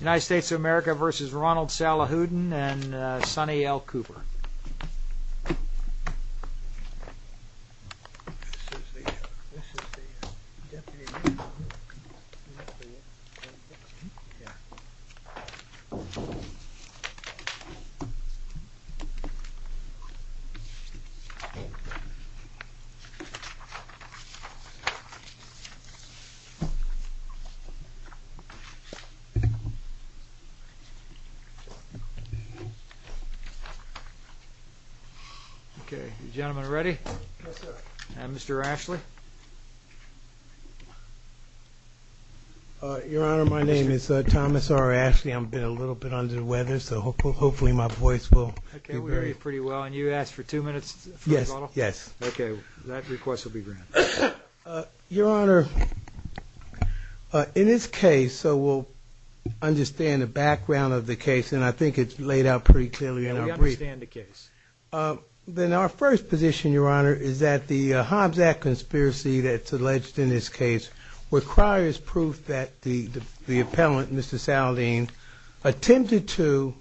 United States of America v. Ronald Salahuddin and Sonny L. Cooper. If the request for a two-minute rebuttal is recommended in favor of the President, understand the background of the case, and I think it's laid out pretty clearly in our brief. We understand the case. Then our first position, Your Honor, is that the Hobbs Act conspiracy that's alleged in this case requires proof that the the appellant, Mr. Saldine, attempted to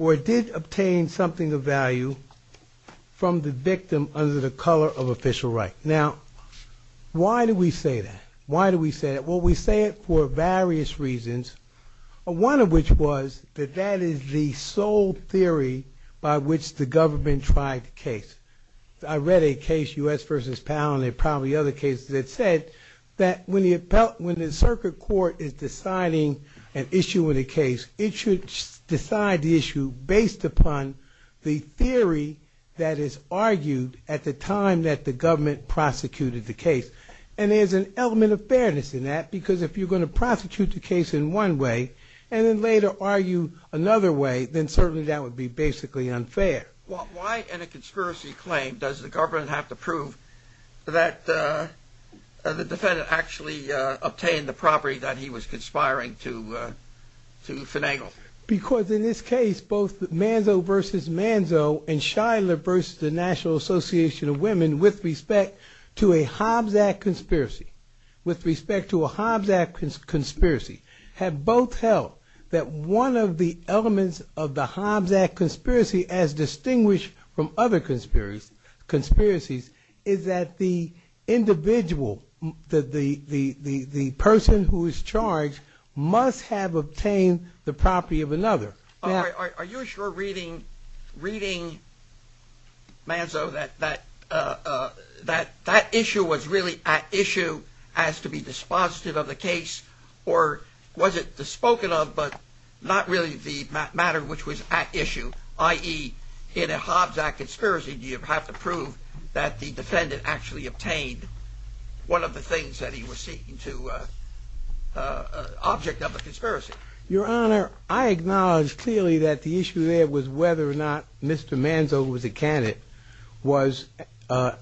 or did obtain something of value from the victim under the color of official right. Now, why do we say that? Why do we say that? Well, we say it for various reasons, one of which was that that is the sole theory by which the government tried the case. I read a case, U.S. v. Powell, and there are probably other cases that said that when the circuit court is deciding an issue in a case, it should decide the issue based upon the theory that is argued at the time that the government prosecuted the case. And there's an element of fairness in that, because if you're going to prostitute the case in one way and then later argue another way, then certainly that would be basically unfair. Well, why in a conspiracy claim does the government have to prove that the defendant actually obtained the property that he was conspiring to finagle? Because in this case, both Manzo v. Manzo and Shiler v. the National Association of Women, with respect to a Hobbs Act conspiracy, with respect to a Hobbs Act conspiracy, have both held that one of the elements of the Hobbs Act conspiracy, as distinguished from other conspiracies, is that the individual, the person who is charged, must have obtained the property of another. Are you sure reading Manzo that that issue was really at issue as to be dispositive of the case, or was it spoken of, but not really the matter which was at issue, i.e., in a Hobbs Act conspiracy, do you have to prove that the defendant actually obtained one of the things that he was seeking to object of the conspiracy? Your Honor, I acknowledge clearly that the issue there was whether or not Mr. Manzo, who was a candidate, was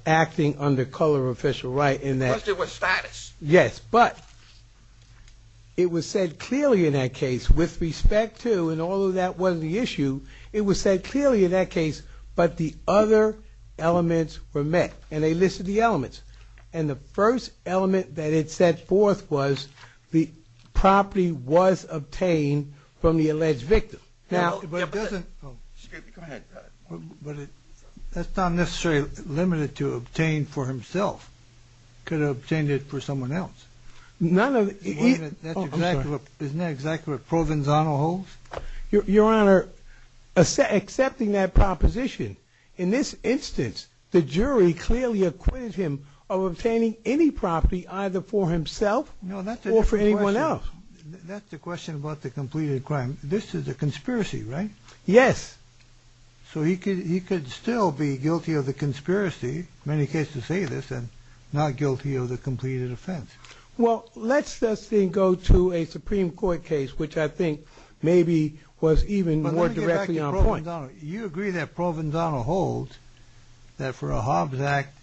acting under color or official right in that. The question was status. Yes, but it was said clearly in that case, with respect to, and although that wasn't the issue, it was said clearly in that case, but the other elements were met, and they listed the elements. And the first element that it set forth was the property was obtained from the alleged victim. Now, that's not necessarily limited to obtain for himself, could have obtained it for someone else. Isn't that exactly what Provenzano holds? Your Honor, accepting that proposition, in this instance, the jury clearly acquitted him of obtaining any property either for himself or for anyone else. That's the question about the completed crime. This is a conspiracy, right? Yes. So he could still be guilty of the conspiracy, many cases say this, and not guilty of the completed offense. Well, let's then go to a Supreme Court case, which I think maybe was even more directly on point. You agree that Provenzano holds that for a Hobbs Act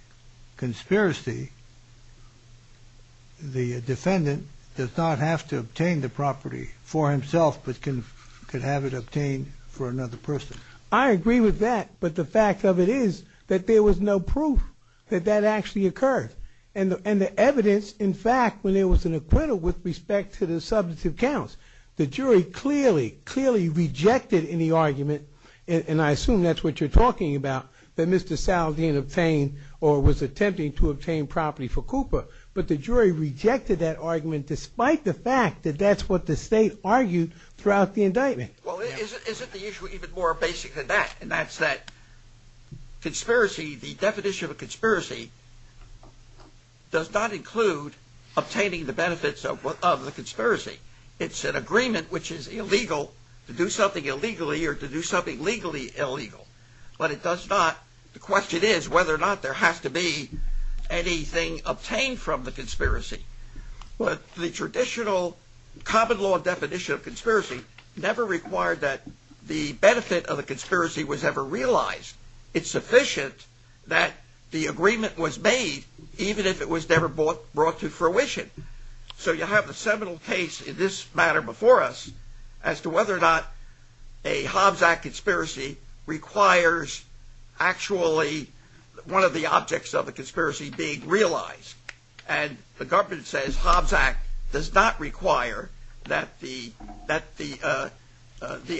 conspiracy, the defendant does not have to obtain the property for himself, but can have it obtained for another person. I agree with that, but the fact of it is that there was no proof that that actually occurred. And the evidence, in fact, when there was an acquittal with respect to the substantive counts, the jury clearly, clearly rejected any argument, and I assume that's what you're talking about, that Mr. Sal didn't obtain or was attempting to obtain property for Cooper. But the jury rejected that argument despite the fact that that's what the state argued throughout the indictment. Well, isn't the issue even more basic than that? And that's that conspiracy, the definition of a conspiracy does not include obtaining the benefits of the conspiracy. It's an agreement which is illegal to do something illegally or to do something legally illegal. But it does not, the question is whether or not there has to be anything obtained from the conspiracy. But the traditional common law definition of conspiracy never required that the benefit of the conspiracy was ever realized. It's sufficient that the agreement was made even if it was never brought to fruition. So you have the seminal case in this matter before us as to whether or not a Hobbs Act conspiracy requires actually one of the objects of the conspiracy being realized. And the government says Hobbs Act does not require that the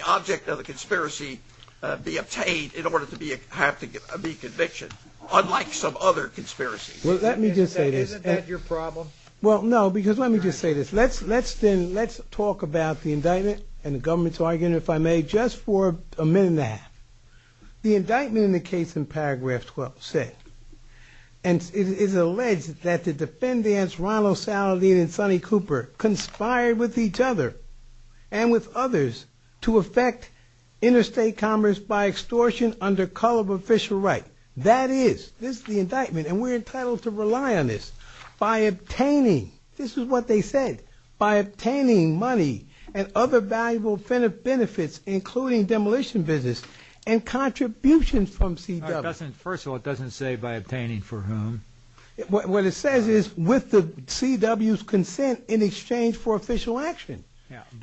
object of the conspiracy be obtained in order to have to be convicted, unlike some other conspiracies. Well, let me just say this. Isn't that your problem? Well, no, because let me just say this. Let's talk about the indictment and the government's argument, if I may, just for a minute and a half. The indictment in the case in paragraph 12 says, and it is alleged that the defendants, Ronald Saladin and Sonny Cooper, conspired with each other and with others to affect interstate commerce by extortion under color of official right. That is, this is the indictment, and we're entitled to rely on this by obtaining, this is what they said, by obtaining money and other valuable benefits, including demolition business and contributions from CW. First of all, it doesn't say by obtaining for whom. What it says is with the CW's consent in exchange for official action.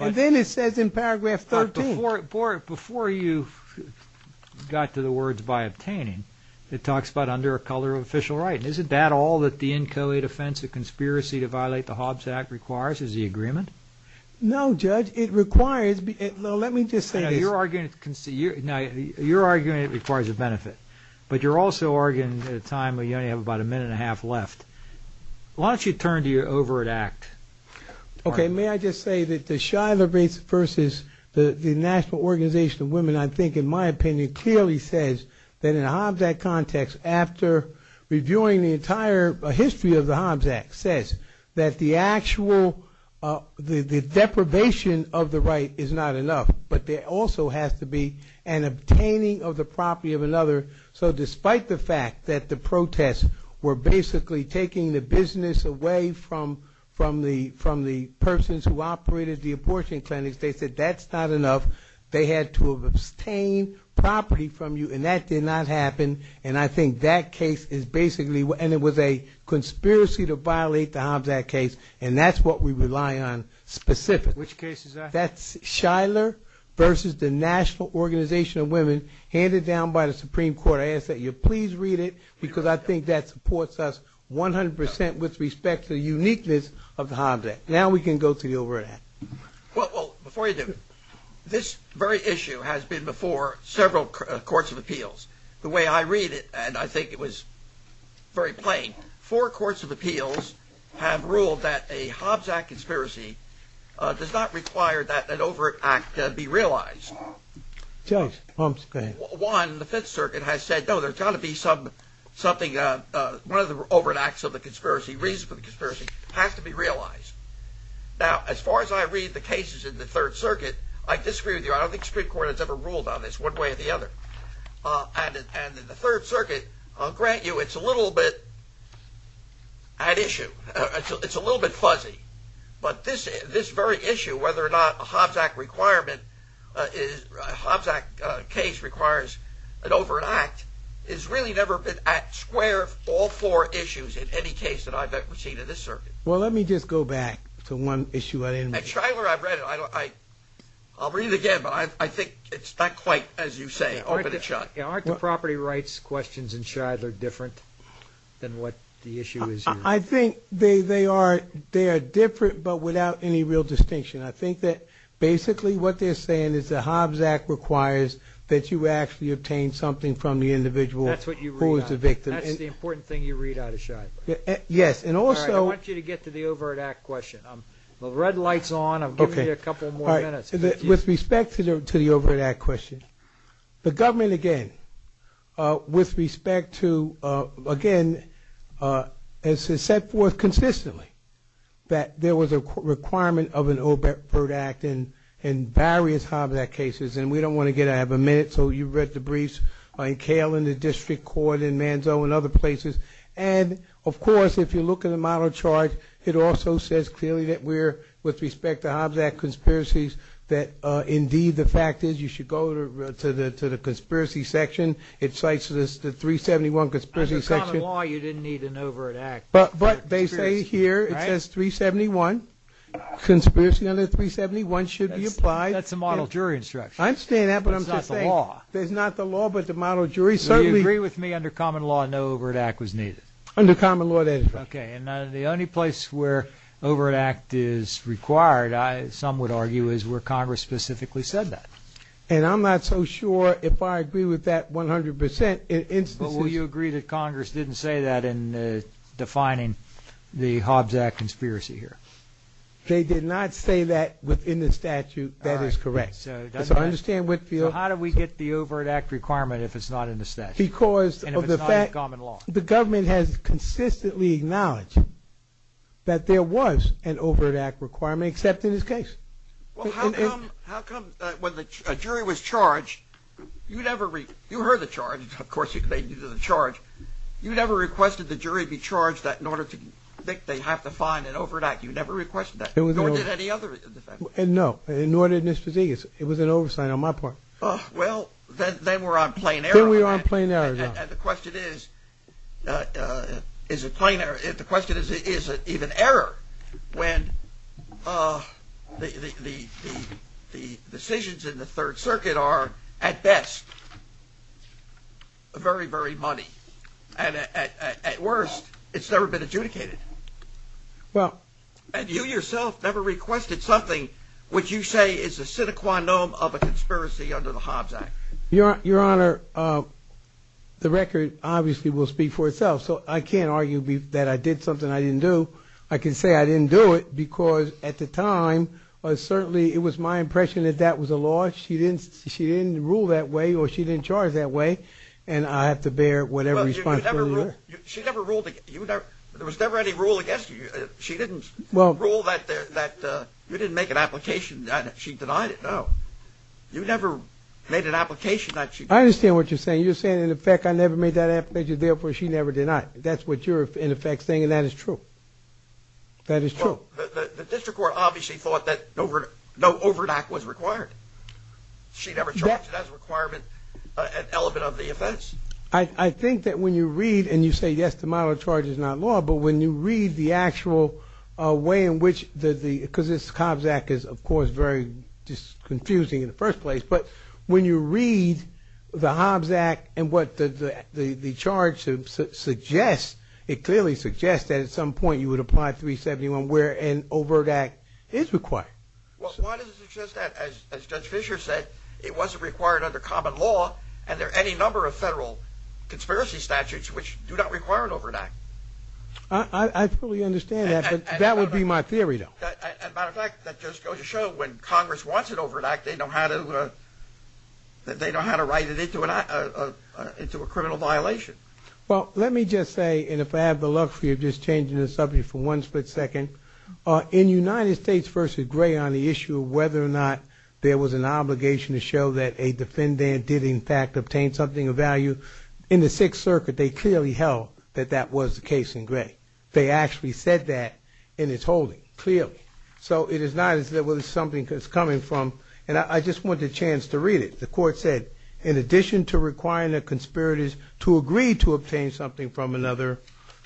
And then it says in paragraph 13. Before you got to the words by obtaining, it talks about under a color of official right. Isn't that all that the NCOA defense of conspiracy to violate the Hobbs Act requires, is the agreement? No, Judge, it requires, let me just say this. Now, you're arguing it requires a benefit, but you're also arguing at a time when you only have about a minute and a half left. Why don't you turn to your overt act? Okay, may I just say that the Shiloh versus the National Organization of Women, I think, in my opinion, clearly says that in a Hobbs Act context, after reviewing the entire history of the Hobbs Act, says that the actual deprivation of the right is not enough, but there also has to be an obtaining of the property of another. So despite the fact that the protests were basically taking the business away from the persons who operated the abortion clinics, they said that's not enough. They had to have obtained property from you, and that did not happen. And I think that case is basically, and it was a conspiracy to violate the Hobbs Act case, and that's what we rely on specifically. Which case is that? That's Shiloh versus the National Organization of Women, handed down by the Supreme Court. I ask that you please read it, because I think that supports us 100% with respect to the uniqueness of the Hobbs Act. Now we can go to the overt act. Well, before you do, this very issue has been before several courts of appeals. The way I read it, and I think it was very plain, four courts of appeals have ruled that a Hobbs Act conspiracy does not require that an overt act be realized. Judge, Holmes, go ahead. One, the Fifth Circuit has said, no, there's got to be something, one of the overt acts of the conspiracy, reason for the conspiracy has to be realized. Now, as far as I read the cases in the Third Circuit, I disagree with you. I don't think Supreme Court has ever ruled on this one way or the other. And in the Third Circuit, I'll grant you it's a little bit at issue. It's a little bit fuzzy. But this very issue, whether or not a Hobbs Act case requires an overt act, has really never been at square all four issues in any case that I've ever seen in this circuit. Well, let me just go back to one issue. I'll read it again, but I think it's not quite as you say. Aren't the property rights questions in Shidler different than what the issue is here? I think they are different, but without any real distinction. I think that basically what they're saying is the Hobbs Act requires that you actually obtain something from the individual who is the victim. That's the important thing you read out of Shidler. Yes. All right, I want you to get to the overt act question. The red light's on. I'm giving you a couple more minutes. With respect to the overt act question, the government, again, with respect to, again, has set forth consistently that there was a requirement of an overt act in various Hobbs Act cases, and we don't want to get out of a minute. So you've read the briefs in Cale and the district court and Manzo and other places. And, of course, if you look in the model chart, it also says clearly that we're, with respect to Hobbs Act conspiracies, that, indeed, the fact is you should go to the conspiracy section. It cites the 371 conspiracy section. Under common law, you didn't need an overt act. But they say here, it says 371. Conspiracy under 371 should be applied. That's a model jury instruction. I understand that, but I'm just saying. That's not the law. That's not the law, but the model jury certainly. Do you agree with me? Under common law, no overt act was needed. Under common law, that is right. Okay. The only place where overt act is required, some would argue, is where Congress specifically said that. And I'm not so sure if I agree with that 100%. But would you agree that Congress didn't say that in defining the Hobbs Act conspiracy here? They did not say that within the statute. That is correct. So I understand Whitfield. So how do we get the overt act requirement if it's not in the statute? Because of the fact. And if it's not in common law. The government has consistently acknowledged that there was an overt act requirement, except in this case. Well, how come when the jury was charged, you never, you heard the charge. Of course, they knew the charge. You never requested the jury be charged that in order to think they have to find an overt act. You never requested that, nor did any other defense. No, nor did Ms. Fazegas. It was an oversight on my part. Well, then we're on plain error. Then we're on plain error. And the question is, is it plain error? The question is, is it even error? When the decisions in the Third Circuit are at best. Very, very money. And at worst, it's never been adjudicated. Well, and you yourself never requested something, which you say is a sine qua non of a conspiracy under the Hobbs Act. Your Honor, the record obviously will speak for itself. So I can't argue that I did something I didn't do. I can say I didn't do it because at the time, certainly it was my impression that that was a law. She didn't rule that way or she didn't charge that way. And I have to bear whatever response. She never ruled. There was never any rule against you. She didn't rule that you didn't make an application. She denied it. You never made an application. I understand what you're saying. You're saying, in effect, I never made that application. Therefore, she never denied. That's what you're, in effect, saying. And that is true. That is true. The district court obviously thought that no overdraft was required. She never charged it as a requirement, an element of the offense. I think that when you read and you say, yes, the model of charge is not law. But when you read the actual way in which the, because this Hobbs Act is, of course, very confusing in the first place. But when you read the Hobbs Act and what the charge suggests, it clearly suggests that at some point you would apply 371 where an overdraft is required. Well, why does it suggest that, as Judge Fischer said, it wasn't required under common law and there are any number of federal conspiracy statutes which do not require an overdraft? I fully understand that. That would be my theory, though. As a matter of fact, that just goes to show when Congress wants an overdraft, they know how to write it into a criminal violation. Well, let me just say, and if I have the luck for you, just changing the subject for one split second. In United States v. Gray on the issue of whether or not there was an obligation to show that a defendant did, in fact, obtain something of value, in the Sixth Circuit, they clearly held that that was the case in Gray. They actually said that in its holding, clearly. So it is not as though it was something that's coming from, and I just want the chance to read it. The court said, in addition to requiring the conspirators to agree to obtain something from another,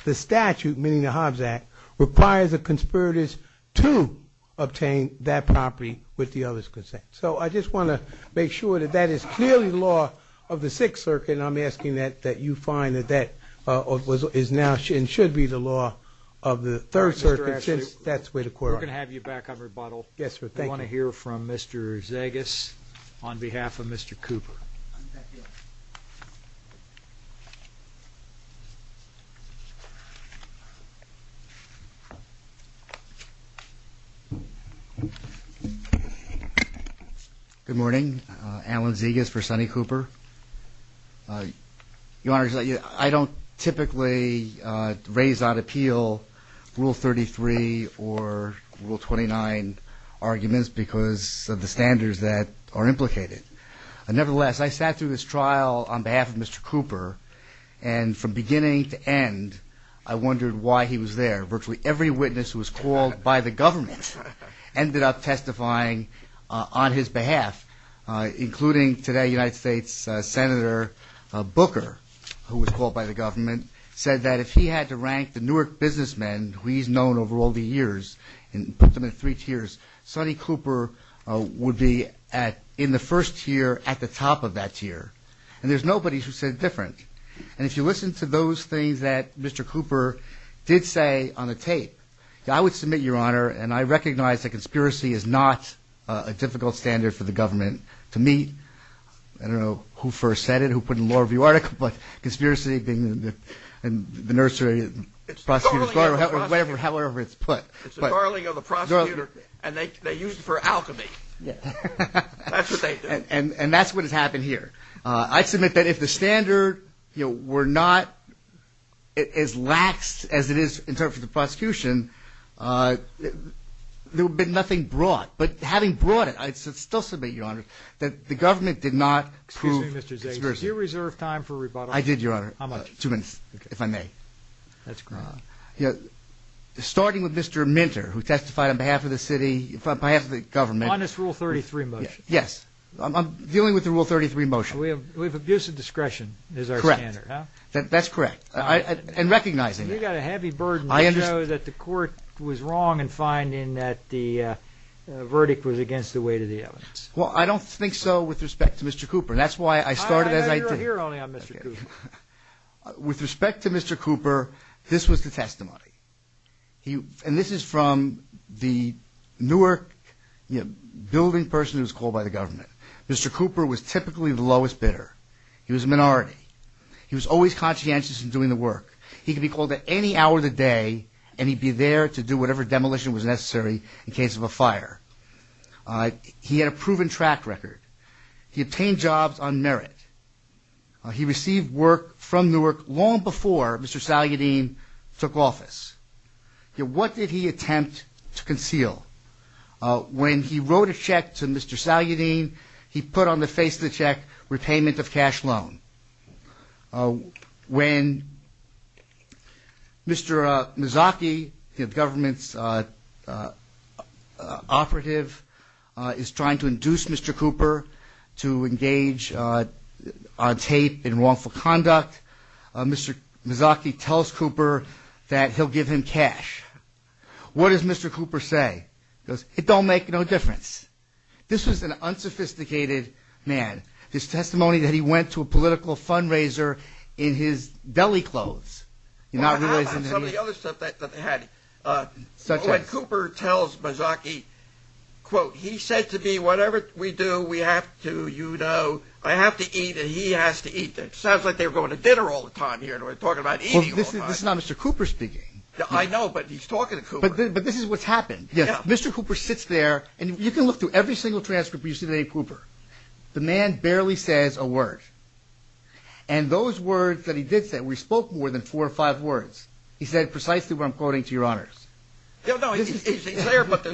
the statute, meaning the Hobbs Act, requires the conspirators to obtain that property with the other's consent. So I just want to make sure that that is clearly law of the Sixth Circuit, and I'm asking that you find that that is now and should be the law of the Third Circuit. Mr. Ashley, we're going to have you back on rebuttal. Yes, sir. Thank you. We want to hear from Mr. Zegas on behalf of Mr. Cooper. Good morning. Alan Zegas for Sonny Cooper. Your Honor, I don't typically raise on appeal Rule 33 or Rule 29 arguments because of the standards that are implicated. Nevertheless, I sat through this trial on behalf of Mr. Cooper, and from beginning to end, I wondered why he was there. Virtually every witness who was called by the government ended up testifying on his behalf, including today, United States Senator Booker, who was called by the government, said that if he had to rank the Newark businessman who he's known over all the years and put them in three tiers, Sonny Cooper would be in the first tier at the top of that tier. And there's nobody who said different. And if you listen to those things that Mr. Cooper did say on the tape, I would submit, Your Honor, and I recognize that conspiracy is not a difficult standard for the government to meet. I don't know who first said it, who put it in the Law Review article, but conspiracy being the nursery prosecutor, however it's put. It's the barreling of the prosecutor, and they use it for alchemy. That's what they do. And that's what has happened here. I submit that if the standard were not as lax as it is in terms of the prosecution, there would be nothing brought. But having brought it, I still submit, Your Honor, that the government did not prove conspiracy. Excuse me, Mr. Zager. Did you reserve time for rebuttal? I did, Your Honor. How much? Two minutes, if I may. That's great. Starting with Mr. Minter, who testified on behalf of the city, on behalf of the government. On this Rule 33 motion. Yes. I'm dealing with the Rule 33 motion. We have abusive discretion as our standard. Correct. That's correct. And recognizing that. You've got a heavy burden to show that the court was wrong in finding that the verdict was against the weight of the evidence. Well, I don't think so with respect to Mr. Cooper. That's why I started as I did. You're only on Mr. Cooper. With respect to Mr. Cooper, this was the testimony. And this is from the Newark building person who was called by the government. Mr. Cooper was typically the lowest bidder. He was a minority. He was always conscientious in doing the work. He could be called at any hour of the day, and he'd be there to do whatever demolition was necessary in case of a fire. He had a proven track record. He obtained jobs on merit. He received work from Newark long before Mr. Salyardine took office. What did he attempt to conceal? When he wrote a check to Mr. Salyardine, he put on the face of the check repayment of cash loan. When Mr. Mazzocchi, the government's operative, is trying to induce Mr. Cooper to engage on tape in wrongful conduct, Mr. Mazzocchi tells Cooper that he'll give him cash. What does Mr. Cooper say? He goes, it don't make no difference. This was an unsophisticated man. His testimony that he went to a political fundraiser in his deli clothes. Well, how about some of the other stuff that they had? When Cooper tells Mazzocchi, quote, he said to me, whatever we do, we have to, you know, I have to eat and he has to eat. That sounds like they were going to dinner all the time here, and we're talking about eating all the time. This is not Mr. Cooper speaking. I know, but he's talking to Cooper. But this is what's happened. Yes, Mr. Cooper sits there, and you can look through every single transcript where you see the name Cooper. The man barely says a word. And those words that he did say, we spoke more than four or five words. He said precisely what I'm quoting to your honors. No, he's there. But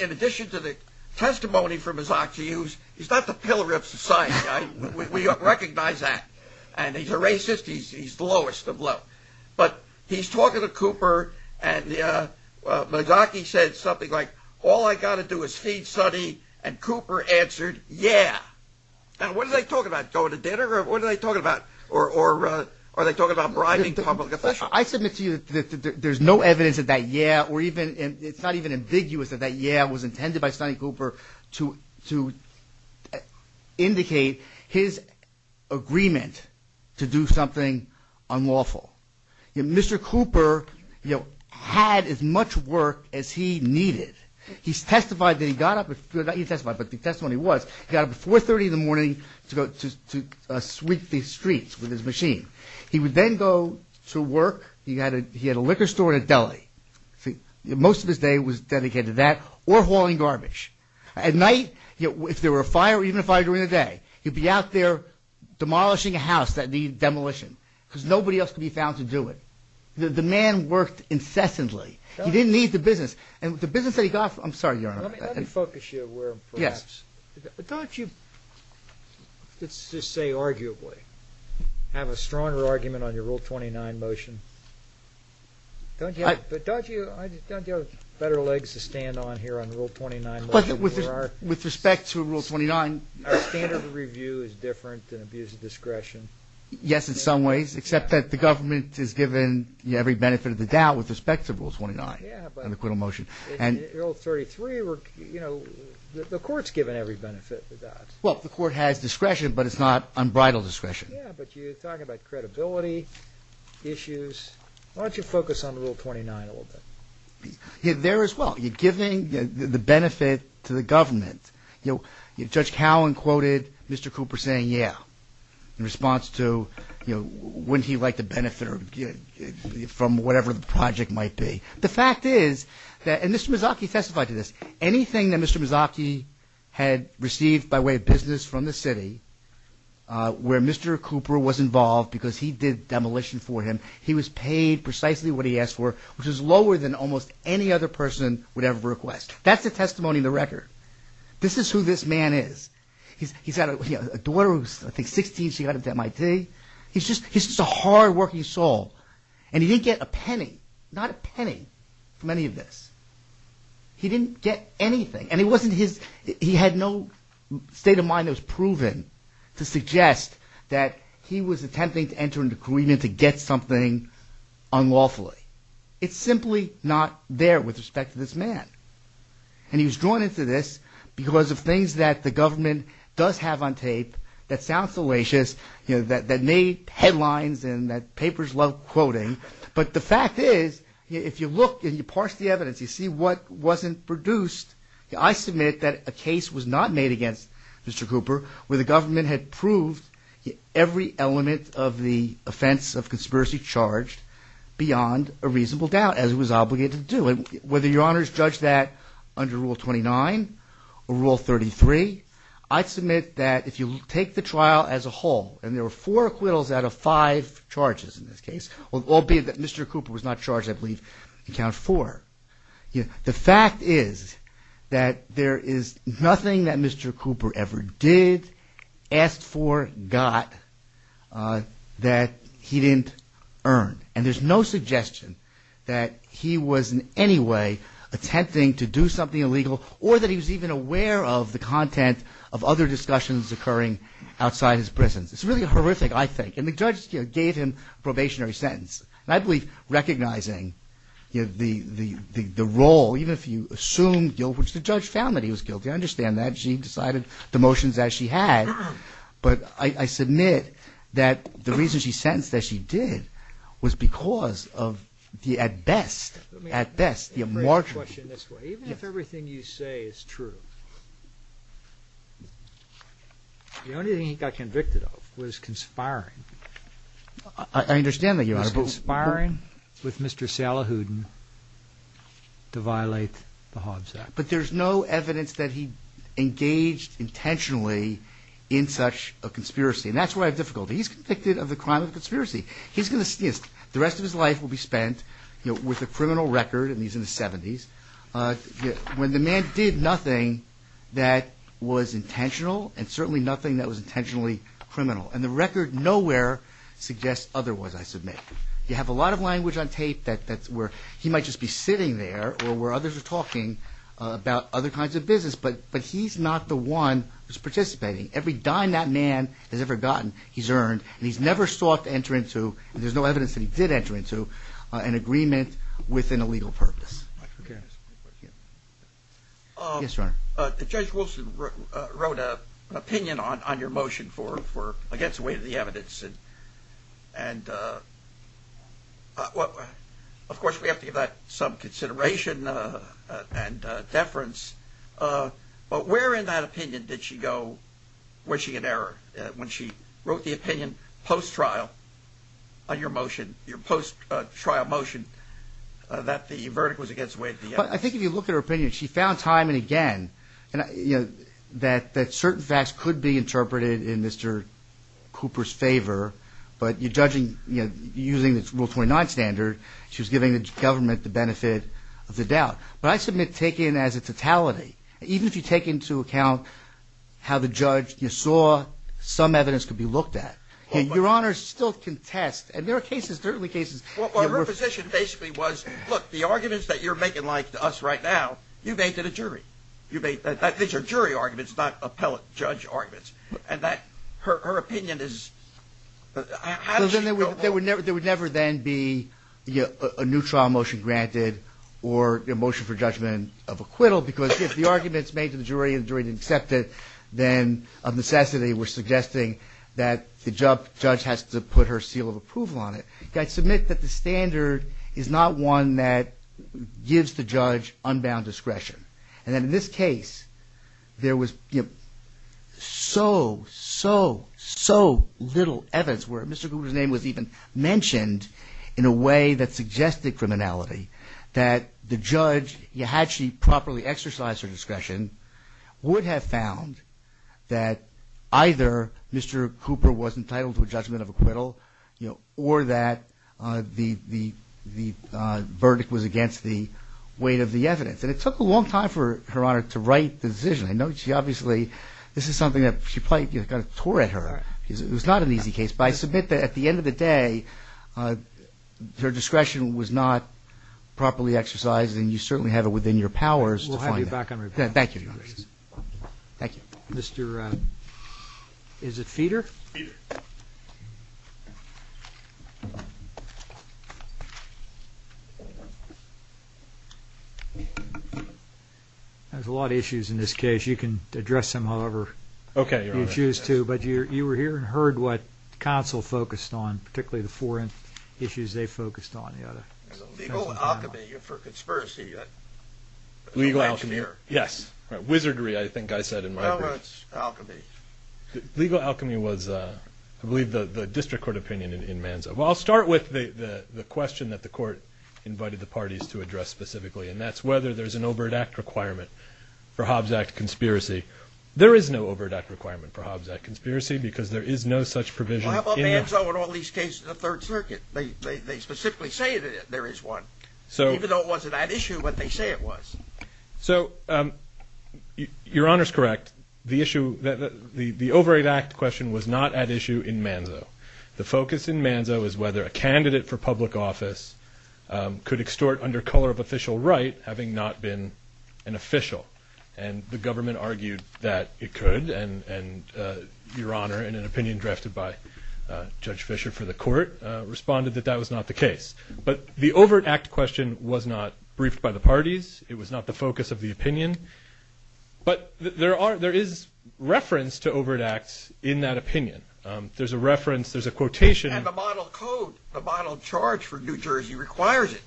in addition to the testimony for Mazzocchi, he's not the pillar of society. We recognize that. And he's a racist. He's the lowest of low. But he's talking to Cooper. And Mazzocchi said something like, all I got to do is feed Sonny. And Cooper answered, yeah. Now, what are they talking about? Going to dinner? Or what are they talking about? Or are they talking about bribing public officials? I submit to you that there's no evidence of that yeah, or even it's not even ambiguous that that yeah was intended by Sonny Cooper to indicate his agreement to do something unlawful. Mr. Cooper had as much work as he needed. He testified that he got up at 430 in the morning to sweep the streets with his machine. He would then go to work. He had a liquor store and a deli. Most of his day was dedicated to that or hauling garbage. At night, if there were a fire or even a fire during the day, he'd be out there demolishing a house that needed demolition because nobody else could be found to do it. The man worked incessantly. He didn't need the business. And the business that he got, I'm sorry, Your Honor. Let me focus you where perhaps. Yes. Don't you, let's just say arguably, have a stronger argument on your Rule 29 motion? Don't you have better legs to stand on here on Rule 29? With respect to Rule 29. Our standard of review is different than abuse of discretion. Yes, in some ways, except that the government is given every benefit of the doubt with respect to Rule 29. Yeah, but in Rule 33, you know, the court's given every benefit of that. Well, the court has discretion, but it's not unbridled discretion. Yeah, but you're talking about credibility issues. Why don't you focus on Rule 29 a little bit? There as well. You're giving the benefit to the government. You know, Judge Cowan quoted Mr. Cooper saying, yeah, in response to, you know, wouldn't he like to benefit from whatever the project might be? The fact is that, and Mr. Mazzocchi testified to this, anything that Mr. Mazzocchi had received by way of business from the city, where Mr. Cooper was involved because he did demolition for him, he was paid precisely what he asked for, which is lower than almost any other person would ever request. That's the testimony in the record. This is who this man is. He's got a daughter who's, I think, 16. She got into MIT. He's just a hardworking soul, and he didn't get a penny. Not a penny from any of this. He didn't get anything, and it wasn't his. He had no state of mind that was proven to suggest that he was attempting to enter into agreement to get something unlawfully. It's simply not there with respect to this man. And he was drawn into this because of things that the government does have on tape that sounds salacious, you know, that made headlines, and that papers love quoting. But the fact is, if you look and you parse the evidence, you see what wasn't produced. I submit that a case was not made against Mr. Cooper where the government had proved every element of the offense of conspiracy charged beyond a reasonable doubt, as it was obligated to do. Whether your honors judge that under Rule 29 or Rule 33, I submit that if you take the trial as a whole, and there were four acquittals out of five charges in this case, albeit that Mr. Cooper was not charged, I believe, in count four. The fact is that there is nothing that Mr. Cooper ever did, asked for, got, that he didn't earn. And there's no suggestion that he was in any way attempting to do something illegal or that he was even aware of the content of other discussions occurring outside his prisons. It's really horrific, I think. And the judge gave him a probationary sentence. And I believe, recognizing the role, even if you assume guilt, which the judge found that he was guilty, I understand that. She decided the motions as she had. But I submit that the reason she sentenced, as she did, was because of the, at best, at best, the margin. Let me ask you a question this way. Even if everything you say is true, the only thing he got convicted of was conspiring. I understand that, Your Honor. Was conspiring with Mr. Salahuddin to violate the Hobbs Act. But there's no evidence that he engaged intentionally in such a conspiracy. And that's where I have difficulty. He's convicted of the crime of conspiracy. He's going to, you know, the rest of his life will be spent, you know, with a criminal record, and he's in his 70s. When the man did nothing that was intentional, and certainly nothing that was intentionally criminal. And the record nowhere suggests otherwise, I submit. You have a lot of language on tape that's where he might just be sitting there, or where others are talking about other kinds of business. But he's not the one who's participating. Every dime that man has ever gotten, he's earned. And he's never sought to enter into, and there's no evidence that he did enter into, an agreement with an illegal purpose. Okay. Yes, Your Honor. Judge Wilson wrote an opinion on your motion for against the weight of the evidence. And of course, we have to give that some consideration and deference. But where in that opinion did she go, was she in error? When she wrote the opinion post-trial on your motion, your post-trial motion, that the verdict was against the weight of the evidence? I think if you look at her opinion, she found time and again, that certain facts could be interpreted in Mr. Cooper's favor. But you're judging, you know, using this Rule 29 standard, she was giving the government the benefit of the doubt. But I submit, take in as a totality, even if you take into account how the judge, you saw some evidence could be looked at. Your Honor, still contest. And there are cases, certainly cases. Well, her position basically was, look, the arguments that you're making like to us right now, you made to the jury. You made, these are jury arguments, not appellate judge arguments. And that, her opinion is, how does she go on? There would never then be a new trial motion granted, or a motion for judgment of acquittal, because if the arguments made to the jury and the jury didn't accept it, then of necessity, we're suggesting that the judge has to put her seal of approval on it. I submit that the standard is not one that gives the judge unbound discretion. And in this case, there was so, so, so little evidence where Mr. Cooper's name was even mentioned in a way that suggested criminality, that the judge, had she properly exercised her discretion, would have found that either Mr. Cooper was entitled to a judgment of acquittal, or that the verdict was against the weight of the evidence. And it took a long time for Her Honor to write the decision. I know she obviously, this is something that she probably got a tour at her. It was not an easy case. But I submit that at the end of the day, her discretion was not properly exercised. And you certainly have it within your powers. We'll have you back on report. Thank you. Thank you. Mr. Is it Feeder? There's a lot of issues in this case. You can address them however you choose to. But you were here and heard what counsel focused on, particularly the four issues they focused on. Legal alchemy for conspiracy. Legal alchemy. Yes. Wizardry, I think I said in my brief. Alchemy. Legal alchemy was, I believe, the district court opinion in Manzo. Well, I'll start with the question that the court invited the parties to address specifically. And that's whether there's an overt act requirement for Hobbs Act conspiracy. There is no overt act requirement for Hobbs Act conspiracy, because there is no such provision. How about Manzo and all these cases in the Third Circuit? They specifically say that there is one. So even though it wasn't that issue, but they say it was. So your Honor's correct. The issue, the overt act question was not at issue in Manzo. The focus in Manzo is whether a candidate for public office could extort under color of official right, having not been an official. And the government argued that it could. And your Honor, in an opinion drafted by Judge Fisher for the court, responded that that was not the case. But the overt act question was not briefed by the parties. It was not the focus of the opinion. But there is reference to overt acts in that opinion. There's a reference, there's a quotation. And the model code, the model charge for New Jersey requires it.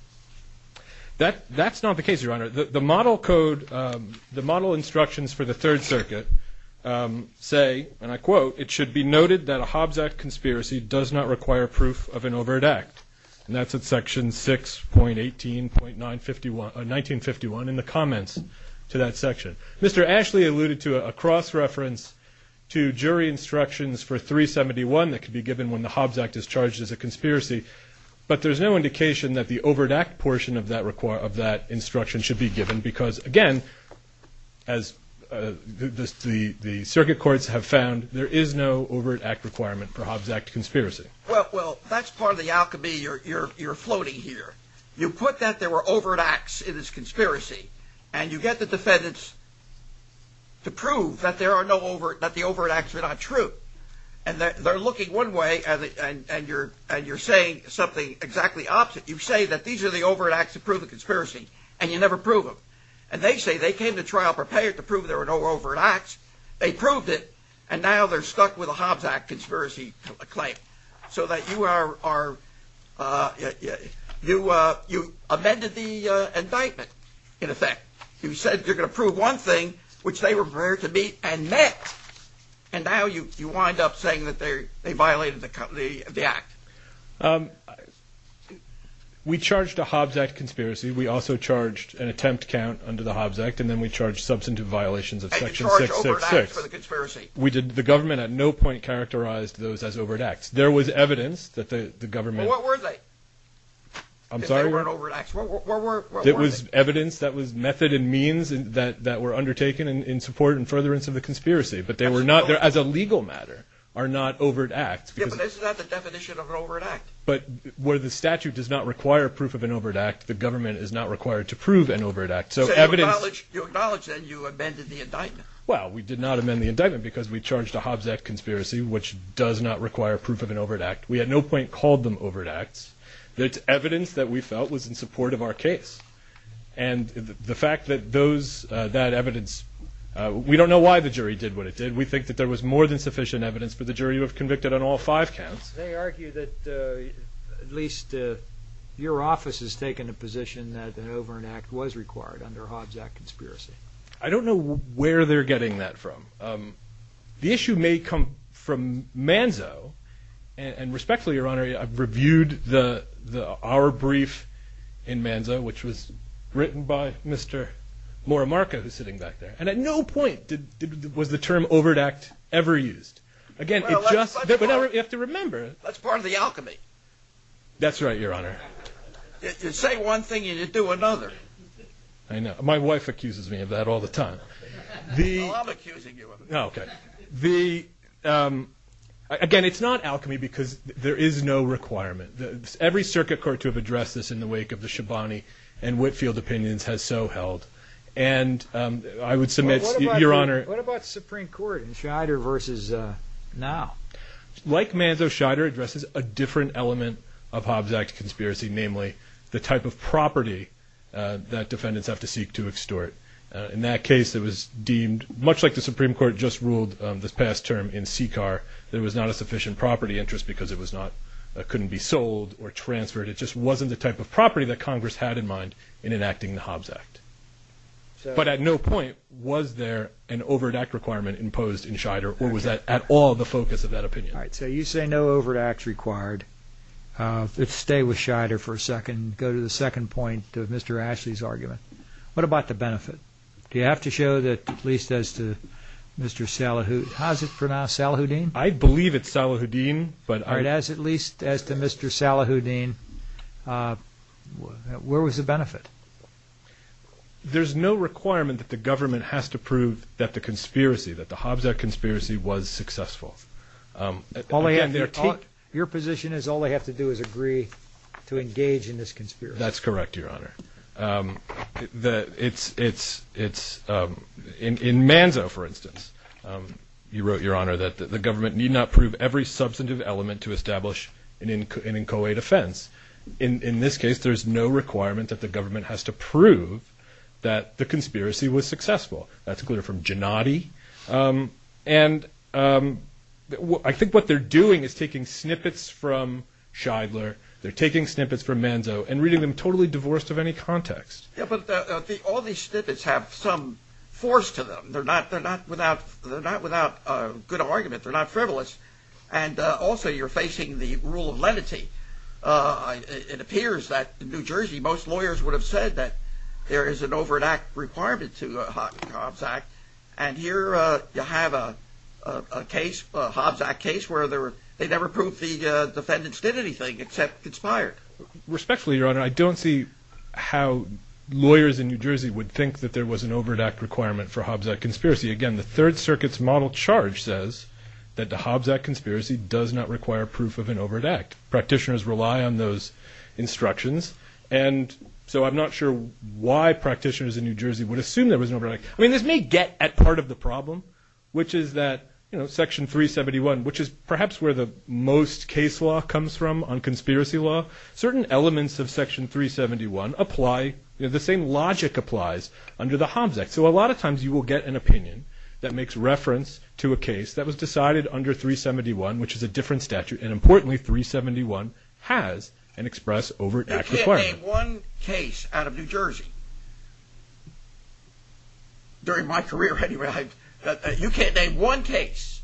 That's not the case, your Honor. The model code, the model instructions for the Third Circuit say, and I quote, it should be noted that a Hobbs Act conspiracy does not require proof of an overt act. And that's at section 6.18.1951 in the comments to that section. Mr. Ashley alluded to a cross-reference to jury instructions for 371 that could be given when the Hobbs Act is charged as a conspiracy. But there's no indication that the overt act portion of that instruction should be given. Because again, as the circuit courts have found, there is no overt act requirement for Hobbs Act conspiracy. Well, that's part of the alchemy you're floating here. You put that there were overt acts in this conspiracy. And you get the defendants to prove that the overt acts are not true. And they're looking one way, and you're saying something exactly opposite. You say that these are the overt acts that prove the conspiracy. And you never prove them. And they say they came to trial prepared to prove there were no overt acts. They proved it. And now they're stuck with a Hobbs Act conspiracy claim. So that you amended the indictment, in effect. You said you're going to prove one thing, which they were prepared to meet and met. And now you wind up saying that they violated the act. We charged a Hobbs Act conspiracy. We also charged an attempt count under the Hobbs Act. And then we charged substantive violations of section 666. And you charged overt acts for the conspiracy. We did. The government at no point characterized those as overt acts. There was evidence that the government... Well, what were they? I'm sorry? If they were overt acts, what were they? It was evidence that was method and means that were undertaken in support and furtherance of the conspiracy. But they were not, as a legal matter, are not overt acts. Yeah, but isn't that the definition of an overt act? But where the statute does not require proof of an overt act, the government is not required to prove an overt act. So evidence... You acknowledge that you amended the indictment. Well, we did not amend the indictment because we charged a Hobbs Act conspiracy, which does not require proof of an overt act. We at no point called them overt acts. It's evidence that we felt was in support of our case. And the fact that that evidence... We don't know why the jury did what it did. We think that there was more than sufficient evidence for the jury who have convicted on all five counts. They argue that at least your office has taken a position that an overt act was required under a Hobbs Act conspiracy. I don't know where they're getting that from. The issue may come from Manzo. And respectfully, Your Honor, I've reviewed the hour brief in Manzo, which was written by Mr. Morimarka, who's sitting back there. And at no point was the term overt act ever used. Again, you have to remember... That's part of the alchemy. That's right, Your Honor. You say one thing and you do another. I know. My wife accuses me of that all the time. Well, I'm accusing you of it. No, OK. Again, it's not alchemy because there is no requirement. Every circuit court to have addressed this in the wake of the Shabani and Whitfield opinions has so held. And I would submit, Your Honor... What about Supreme Court in Scheider versus now? Like Manzo, Scheider addresses a different element of Hobbs Act conspiracy, namely the type of property that defendants have to seek to extort. In that case, it was deemed... Much like the Supreme Court just ruled this past term in CCAR, there was not a sufficient property interest because it was not... Couldn't be sold or transferred. It just wasn't the type of property that Congress had in mind in enacting the Hobbs Act. But at no point was there an overt act requirement imposed in Scheider or was that at all the focus of that opinion? All right. So you say no overt acts required. Let's stay with Scheider for a second. Go to the second point of Mr. Ashley's argument. What about the benefit? Do you have to show that at least as to Mr. Salahuddin... How's it pronounced? Salahuddin? I believe it's Salahuddin. But as at least as to Mr. Salahuddin, where was the benefit? There's no requirement that the government has to prove that the conspiracy, that the Hobbs Act conspiracy was successful. Your position is all they have to do is agree to engage in this conspiracy. That's correct, Your Honor. It's in Manzo, for instance, you wrote, Your Honor, that the government need not prove every substantive element to establish an inchoate offense. In this case, there's no requirement that the government has to prove that the conspiracy was successful. That's clear from Gennady. And I think what they're doing is taking snippets from Scheidler. They're taking snippets from Manzo and reading them totally divorced of any context. But all these snippets have some force to them. They're not without good argument. They're not frivolous. And also, you're facing the rule of lenity. It appears that in New Jersey, most lawyers would have said that there is an over-an-act requirement to the Hobbs Act. And here you have a case, a Hobbs Act case, where they never proved the defendants did anything except conspired. Respectfully, Your Honor, I don't see how lawyers in New Jersey would think that there was an over-an-act requirement for Hobbs Act conspiracy. Again, the Third Circuit's model charge says that the Hobbs Act conspiracy does not require proof of an over-an-act. Practitioners rely on those instructions. And so I'm not sure why practitioners in New Jersey would assume there was an over-an-act. I mean, this may get at part of the problem, which is that Section 371, which is perhaps where the most case law comes from on conspiracy law, certain elements of Section 371 apply. The same logic applies under the Hobbs Act. So a lot of times, you will get an opinion that makes reference to a case that was decided under 371, which is a different statute. And importantly, 371 has an express over-an-act requirement. You can't name one case out of New Jersey, during my career anyway, that you can't name one case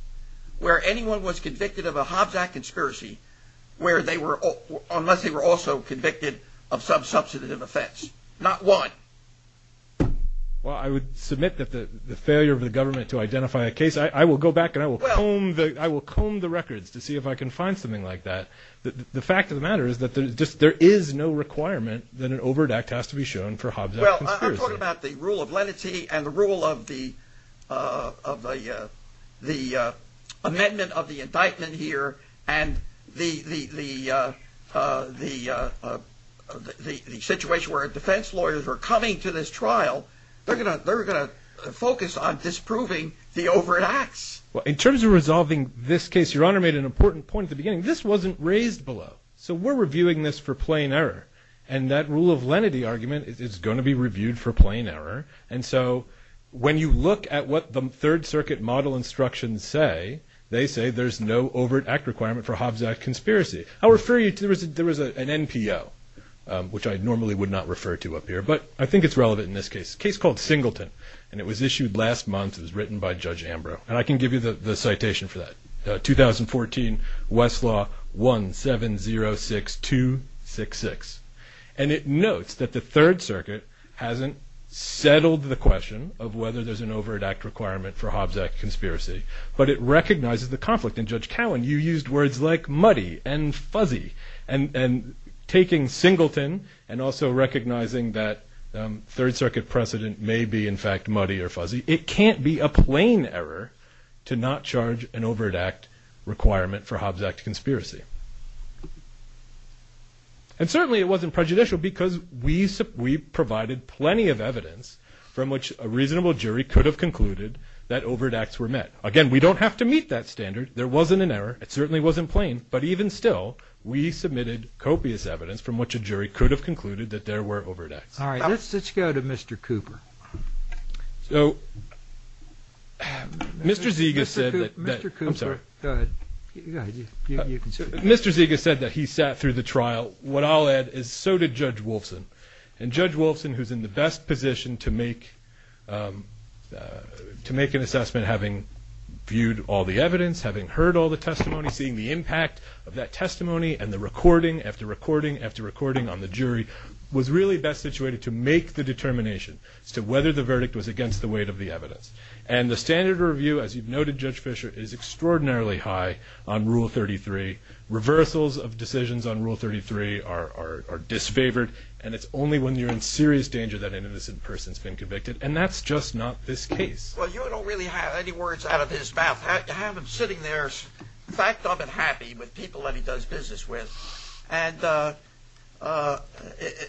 where anyone was convicted of a Hobbs Act conspiracy, unless they were also convicted of some substantive offense. Not one. Well, I would submit that the failure of the government to identify a case, I will go back and I will comb the records to see if I can find something like that. The fact of the matter is that there is no requirement that an over-an-act has to be shown for Hobbs Act conspiracy. I'm talking about the rule of lenity and the rule of the amendment of the indictment here, and the situation where defense lawyers are coming to this trial. They're going to focus on disproving the over-an-acts. In terms of resolving this case, Your Honor made an important point at the beginning. This wasn't raised below. So we're reviewing this for plain error. And that rule of lenity argument is going to be reviewed for plain error. And so when you look at what the Third Circuit model instructions say, they say there's no over-an-act requirement for Hobbs Act conspiracy. I'll refer you to, there was an NPO, which I normally would not refer to up here, but I think it's relevant in this case, case called Singleton. And it was issued last month. It was written by Judge Ambrose. And I can give you the citation for that. 2014 Westlaw 1706266. And it notes that the Third Circuit hasn't settled the question of whether there's an over-an-act requirement for Hobbs Act conspiracy, but it recognizes the conflict. And Judge Cowan, you used words like muddy and fuzzy. And taking Singleton and also recognizing that Third Circuit precedent may be, in fact, muddy or fuzzy. It can't be a plain error to not charge an over-an-act requirement for Hobbs Act conspiracy. And certainly it wasn't prejudicial because we provided plenty of evidence from which a reasonable jury could have concluded that over-an-acts were met. Again, we don't have to meet that standard. There wasn't an error. It certainly wasn't plain. But even still, we submitted copious evidence from which a jury could have concluded that there were over-an-acts. All right, let's go to Mr. Cooper. So Mr. Zegas said that he sat through the trial. What I'll add is so did Judge Wolfson. And Judge Wolfson, who's in the best position to make an assessment having viewed all the evidence, having heard all the testimony, seeing the impact of that testimony and the recording after recording after recording on the jury, was really best situated to make the determination. Whether the verdict was against the weight of the evidence. And the standard of review, as you've noted, Judge Fisher, is extraordinarily high on Rule 33. Reversals of decisions on Rule 33 are disfavored. And it's only when you're in serious danger that an innocent person's been convicted. And that's just not this case. Well, you don't really have any words out of his mouth. To have him sitting there, fact of it, happy with people that he does business with. And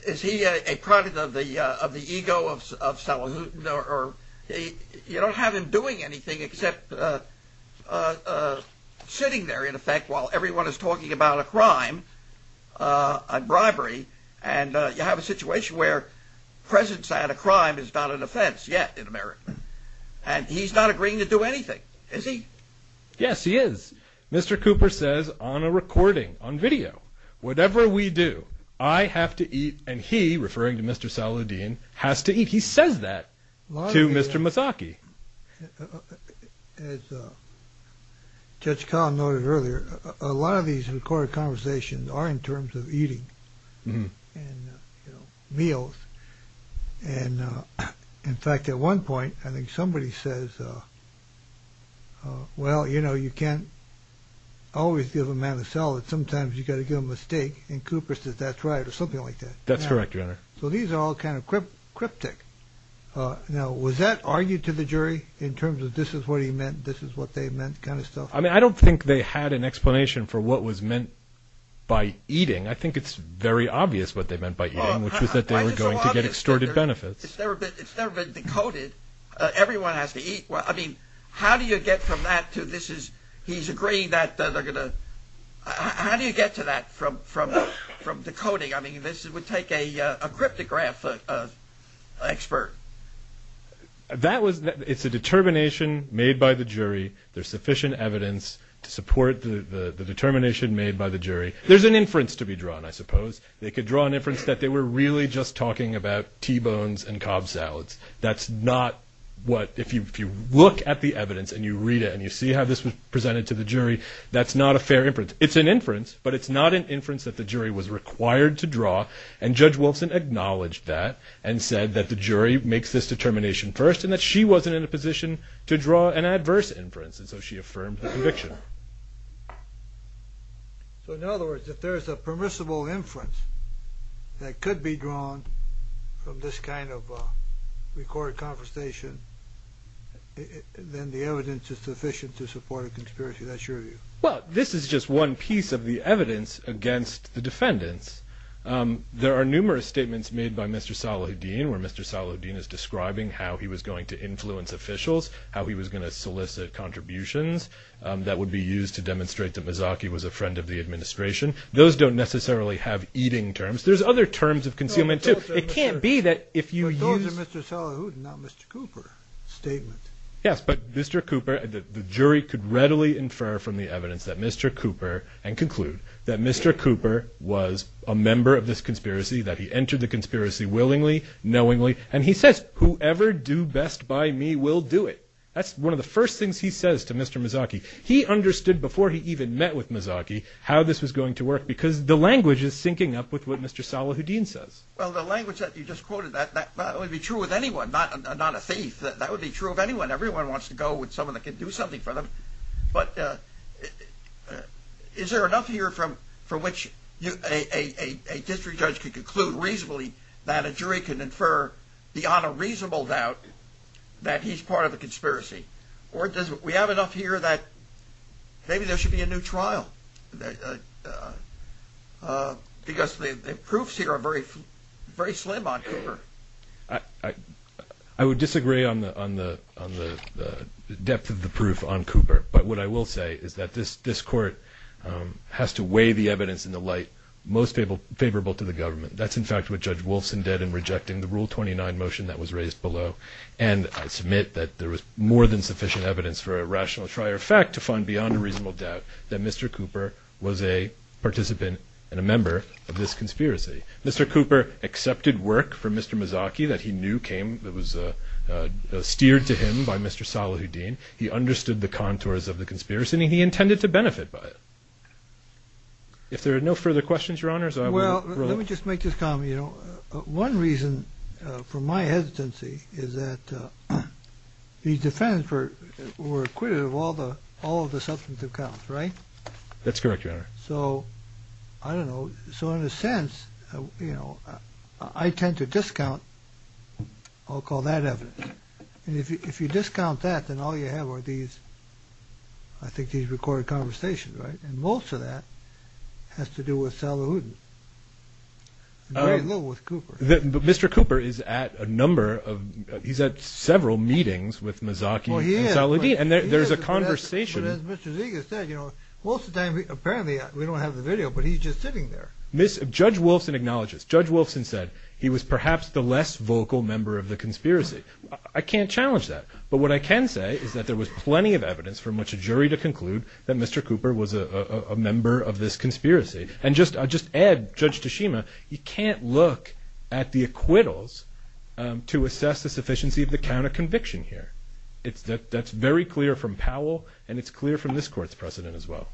is he a product of the ego of Salahuddin? You don't have him doing anything except sitting there, in effect, while everyone is talking about a crime, a bribery. And you have a situation where presence at a crime is not an offense yet in America. And he's not agreeing to do anything, is he? Yes, he is. Mr. Cooper says on a recording, on video, whatever we do, I have to eat. And he, referring to Mr. Salahuddin, has to eat. He says that to Mr. Mazzocchi. As Judge Collin noted earlier, a lot of these recorded conversations are in terms of eating and meals. And in fact, at one point, I think somebody says, well, you know, you can't always give a man a salad. Sometimes you've got to give him a steak. And Cooper says that's right, or something like that. That's correct, Your Honor. So these are all kind of cryptic. Now, was that argued to the jury, in terms of this is what he meant, this is what they meant, kind of stuff? I mean, I don't think they had an explanation for what was meant by eating. I think it's very obvious what they meant by eating, which was that they were going to get extorted benefits. It's never been decoded. Everyone has to eat. Well, I mean, how do you get from that to this is, he's agreeing that they're going to, how do you get to that from decoding? I mean, this would take a cryptograph expert. That was, it's a determination made by the jury. There's sufficient evidence to support the determination made by the jury. There's an inference to be drawn, I suppose. They could draw an inference that they were really just talking about T-bones and Cobb salads. That's not what, if you look at the evidence, and you read it, and you see how this was presented to the jury, that's not a fair inference. It's an inference, but it's not an inference that the jury was required to draw. And Judge Wilson acknowledged that, and said that the jury makes this determination first, and that she wasn't in a position to draw an adverse inference, and so she affirmed the prediction. So, in other words, if there's a permissible inference that could be drawn from this kind of recorded conversation, then the evidence is sufficient to support a conspiracy. That's your view. Well, this is just one piece of the evidence against the defendants. There are numerous statements made by Mr. Salahuddin, where Mr. Salahuddin is describing how he was going to influence officials, how he was going to solicit contributions that would be used to demonstrate that Mazzocchi was a friend of the administration. Those don't necessarily have eating terms. There's other terms of concealment, too. It can't be that if you use... Those are Mr. Salahuddin, not Mr. Cooper's statement. Yes, but Mr. Cooper, the jury could readily infer from the evidence that Mr. Cooper, and conclude, that Mr. Cooper was a member of this conspiracy, that he entered the conspiracy willingly, knowingly, and he says, whoever do best by me will do it. That's one of the first things he says to Mr. Mazzocchi. He understood, before he even met with Mazzocchi, how this was going to work, because the language is syncing up with what Mr. Salahuddin says. Well, the language that you just quoted, that would be true with anyone, not a thief. That would be true of anyone. Everyone wants to go with someone that can do something for them. But is there enough here from which a district judge could conclude reasonably that a jury can infer beyond a reasonable doubt that he's part of a conspiracy? Or do we have enough here that maybe there should be a new trial? Because the proofs here are very slim on Cooper. I would disagree on the depth of the proof on Cooper. But what I will say is that this court has to weigh the evidence in the light most favorable to the government. That's, in fact, what Judge Wolfson did in rejecting the Rule 29 motion that was raised below. And I submit that there was more than sufficient evidence for a rational trial, in fact, to find beyond a reasonable doubt that Mr. Cooper was a participant and a member of this conspiracy. Mr. Cooper accepted work from Mr. Mazzocchi that he knew came, that was steered to him by Mr. Salahuddin. He understood the contours of the conspiracy, and he intended to benefit by it. If there are no further questions, Your Honors, I will close. Well, let me just make this comment, you know. One reason for my hesitancy is that these defendants were acquitted all of the substantive counts, right? That's correct, Your Honor. So, I don't know. So, in a sense, you know, I tend to discount, I'll call that evidence. And if you discount that, then all you have are these, I think these recorded conversations, right? And most of that has to do with Salahuddin, very little with Cooper. Mr. Cooper is at a number of, he's at several meetings with Mazzocchi and Salahuddin. And there's a conversation. But as Mr. Zeger said, you know, most of the time, apparently, we don't have the video, but he's just sitting there. Judge Wolfson acknowledges. Judge Wolfson said he was perhaps the less vocal member of the conspiracy. I can't challenge that. But what I can say is that there was plenty of evidence for much a jury to conclude that Mr. Cooper was a member of this conspiracy. And just to add, Judge Tashima, you can't look at the acquittals to assess the sufficiency of the count of conviction here. That's very clear from Powell. And it's clear from this Court's precedent as well.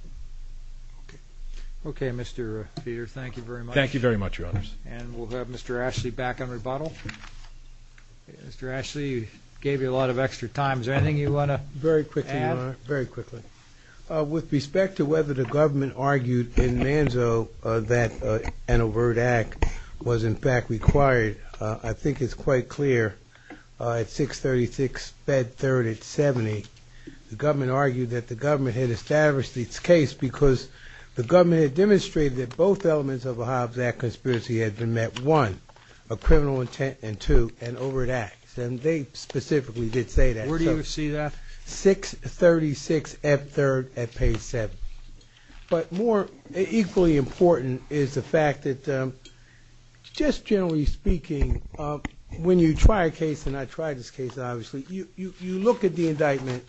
Okay, Mr. Peter, thank you very much. Thank you very much, Your Honors. And we'll have Mr. Ashley back on rebuttal. Mr. Ashley, you gave you a lot of extra time. Is there anything you want to add? Very quickly, Your Honor, very quickly. With respect to whether the government argued in Manzo that an overt act was in fact required, I think it's quite clear. At 636 Bed 3rd at 70, the government argued that the government had established its case because the government had demonstrated that both elements of the Hobbs Act conspiracy had been met, one, a criminal intent, and two, an overt act. And they specifically did say that. Where do you see that? 636 Bed 3rd at page 7. But more equally important is the fact that just generally speaking, when you try a case, and I tried this case, obviously, you look at the indictment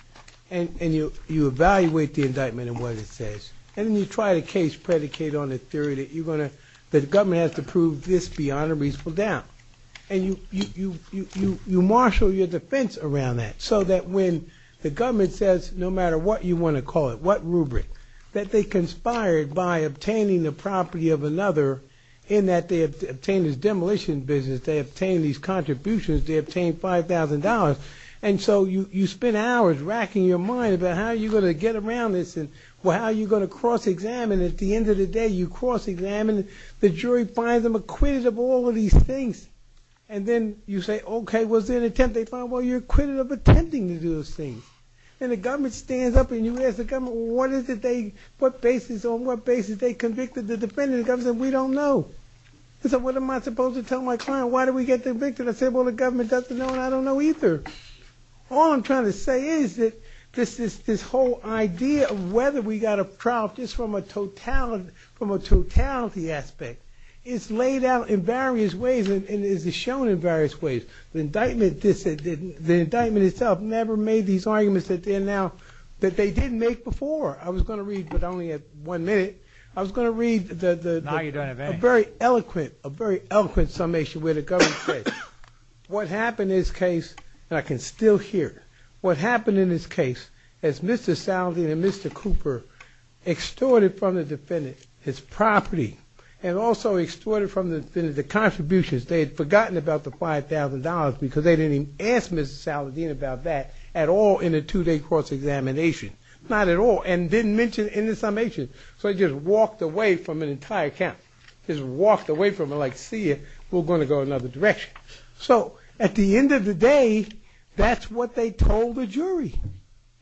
and you evaluate the indictment and what it says. And then you try to case predicate on the theory that you're going to, that the government has to prove this beyond a reasonable doubt. And you marshal your defense around that so that when the government says, no matter what you want to call it, what rubric, that they conspired by obtaining the property of another in that they obtained this demolition business, they obtained these contributions, they obtained $5,000. And so you spend hours racking your mind about how you're going to get around this and how you're going to cross-examine. At the end of the day, you cross-examine. The jury finds them acquitted of all of these things. And then you say, OK, was there an attempt? They find, well, you're acquitted of attempting to do those things. And the government stands up. And you ask the government, well, what is it they, what basis on what basis they convicted the defendant? The government said, we don't know. They said, what am I supposed to tell my client? Why did we get convicted? I said, well, the government doesn't know and I don't know either. All I'm trying to say is that this whole idea of whether we got a trial just from a totality aspect is laid out in various ways and is shown in various ways. The indictment itself never made these arguments that they didn't make before. I was going to read, but only at one minute. I was going to read a very eloquent summation where the government said, what happened in this case, and I can still hear, what happened in this case is Mr. Salvin and Mr. Cooper extorted from the defendant his property and also extorted from the defendant the contributions. They had forgotten about the $5,000 because they didn't even ask Mr. Saladin about that at all in a two-day cross-examination. Not at all. And didn't mention in the summation. So they just walked away from an entire count. Just walked away from it like, see, we're going to go another direction. So at the end of the day, that's what they told the jury.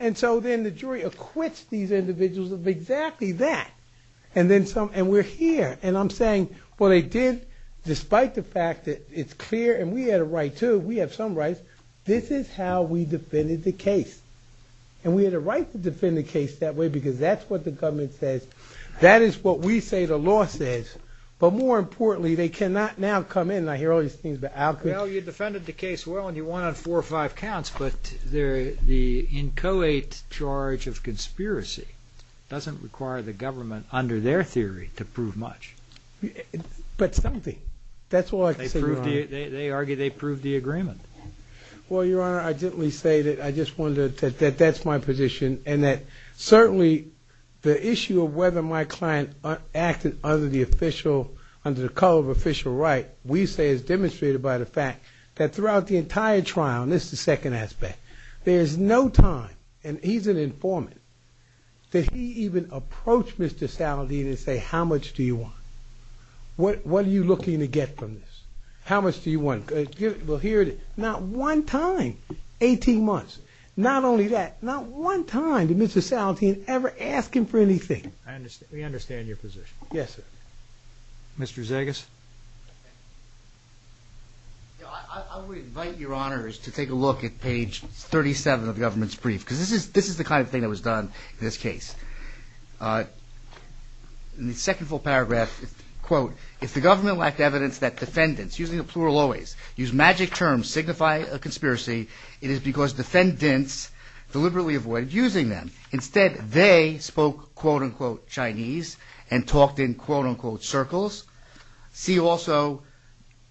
And so then the jury acquits these individuals of exactly that. And then some, and we're here. And I'm saying, well, they did, despite the fact that it's clear, and we had a right to, we have some rights. This is how we defended the case. And we had a right to defend the case that way because that's what the government says. That is what we say the law says. But more importantly, they cannot now come in. And I hear all these things about Alcott. Well, you defended the case well, and you won on four or five counts. But the inchoate charge of conspiracy doesn't require the government, under their theory, to prove much. But something. That's all I can say, Your Honor. They argue they proved the agreement. Well, Your Honor, I gently say that I just wanted to, that that's my position. And that certainly the issue of whether my client acted under the official, under the color of official right, we say is demonstrated by the fact that throughout the entire trial, and this is the second aspect, there's no time, and he's an informant, that he even approached Mr. Saladin and say, how much do you want? What are you looking to get from this? How much do you want? Well, here it is. Not one time, 18 months. Not only that, not one time did Mr. Saladin ever ask him for anything. I understand. We understand your position. Yes, sir. Mr. Zegas. I would invite Your Honors to take a look at page 37 of the government's brief, because this is this is the kind of thing that was done in this case. In the second full paragraph, quote, if the government lacked evidence that defendants, using a plural always, use magic terms, signify a conspiracy, it is because defendants deliberately avoided using them. Instead, they spoke, quote unquote, Chinese and talked in, quote unquote, circles. See also,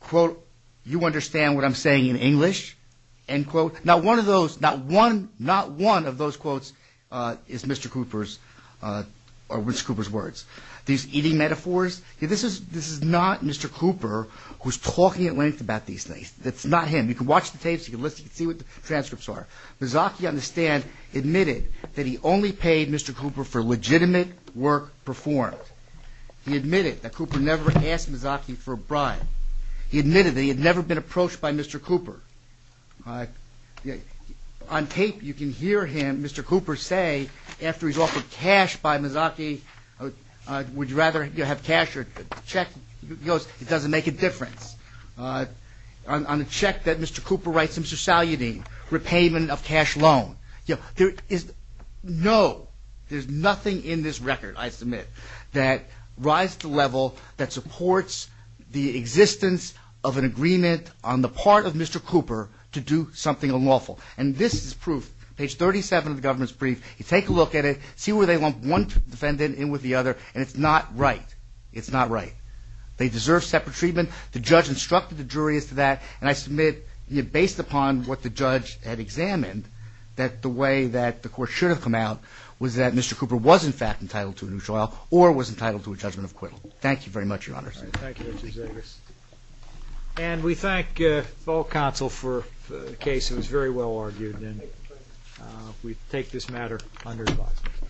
quote, you understand what I'm saying in English? End quote. Not one of those, not one, not one of those quotes is Mr. Cooper's or Mr. Cooper's words. These eating metaphors. This is this is not Mr. Cooper who's talking at length about these things. That's not him. You can watch the tapes. You can listen, see what the transcripts are. Mazzocchi on the stand admitted that he only paid Mr. Cooper for legitimate work performed. He admitted that Cooper never asked Mazzocchi for a bribe. He admitted that he had never been approached by Mr. Cooper. On tape, you can hear him. Mr. Cooper say after he's offered cash by Mazzocchi, would you rather have cash or check? He goes, it doesn't make a difference. On the check that Mr. Cooper writes, Mr. Salyutin, repayment of cash loan. No, there's nothing in this record, I submit. That rise to level that supports the existence of an agreement on the part of Mr. Cooper to do something unlawful. And this is proof. Page 37 of the government's brief. You take a look at it, see where they lump one defendant in with the other. And it's not right. It's not right. They deserve separate treatment. The judge instructed the jury as to that. And I submit, based upon what the judge had examined, that the way that the court should have come out was that Mr. Cooper was, in fact, entitled to a neutral trial or was entitled to a judgment of acquittal. Thank you very much, Your Honor. And we thank all counsel for the case. It was very well argued. And we take this matter under. Thank you. Thank you.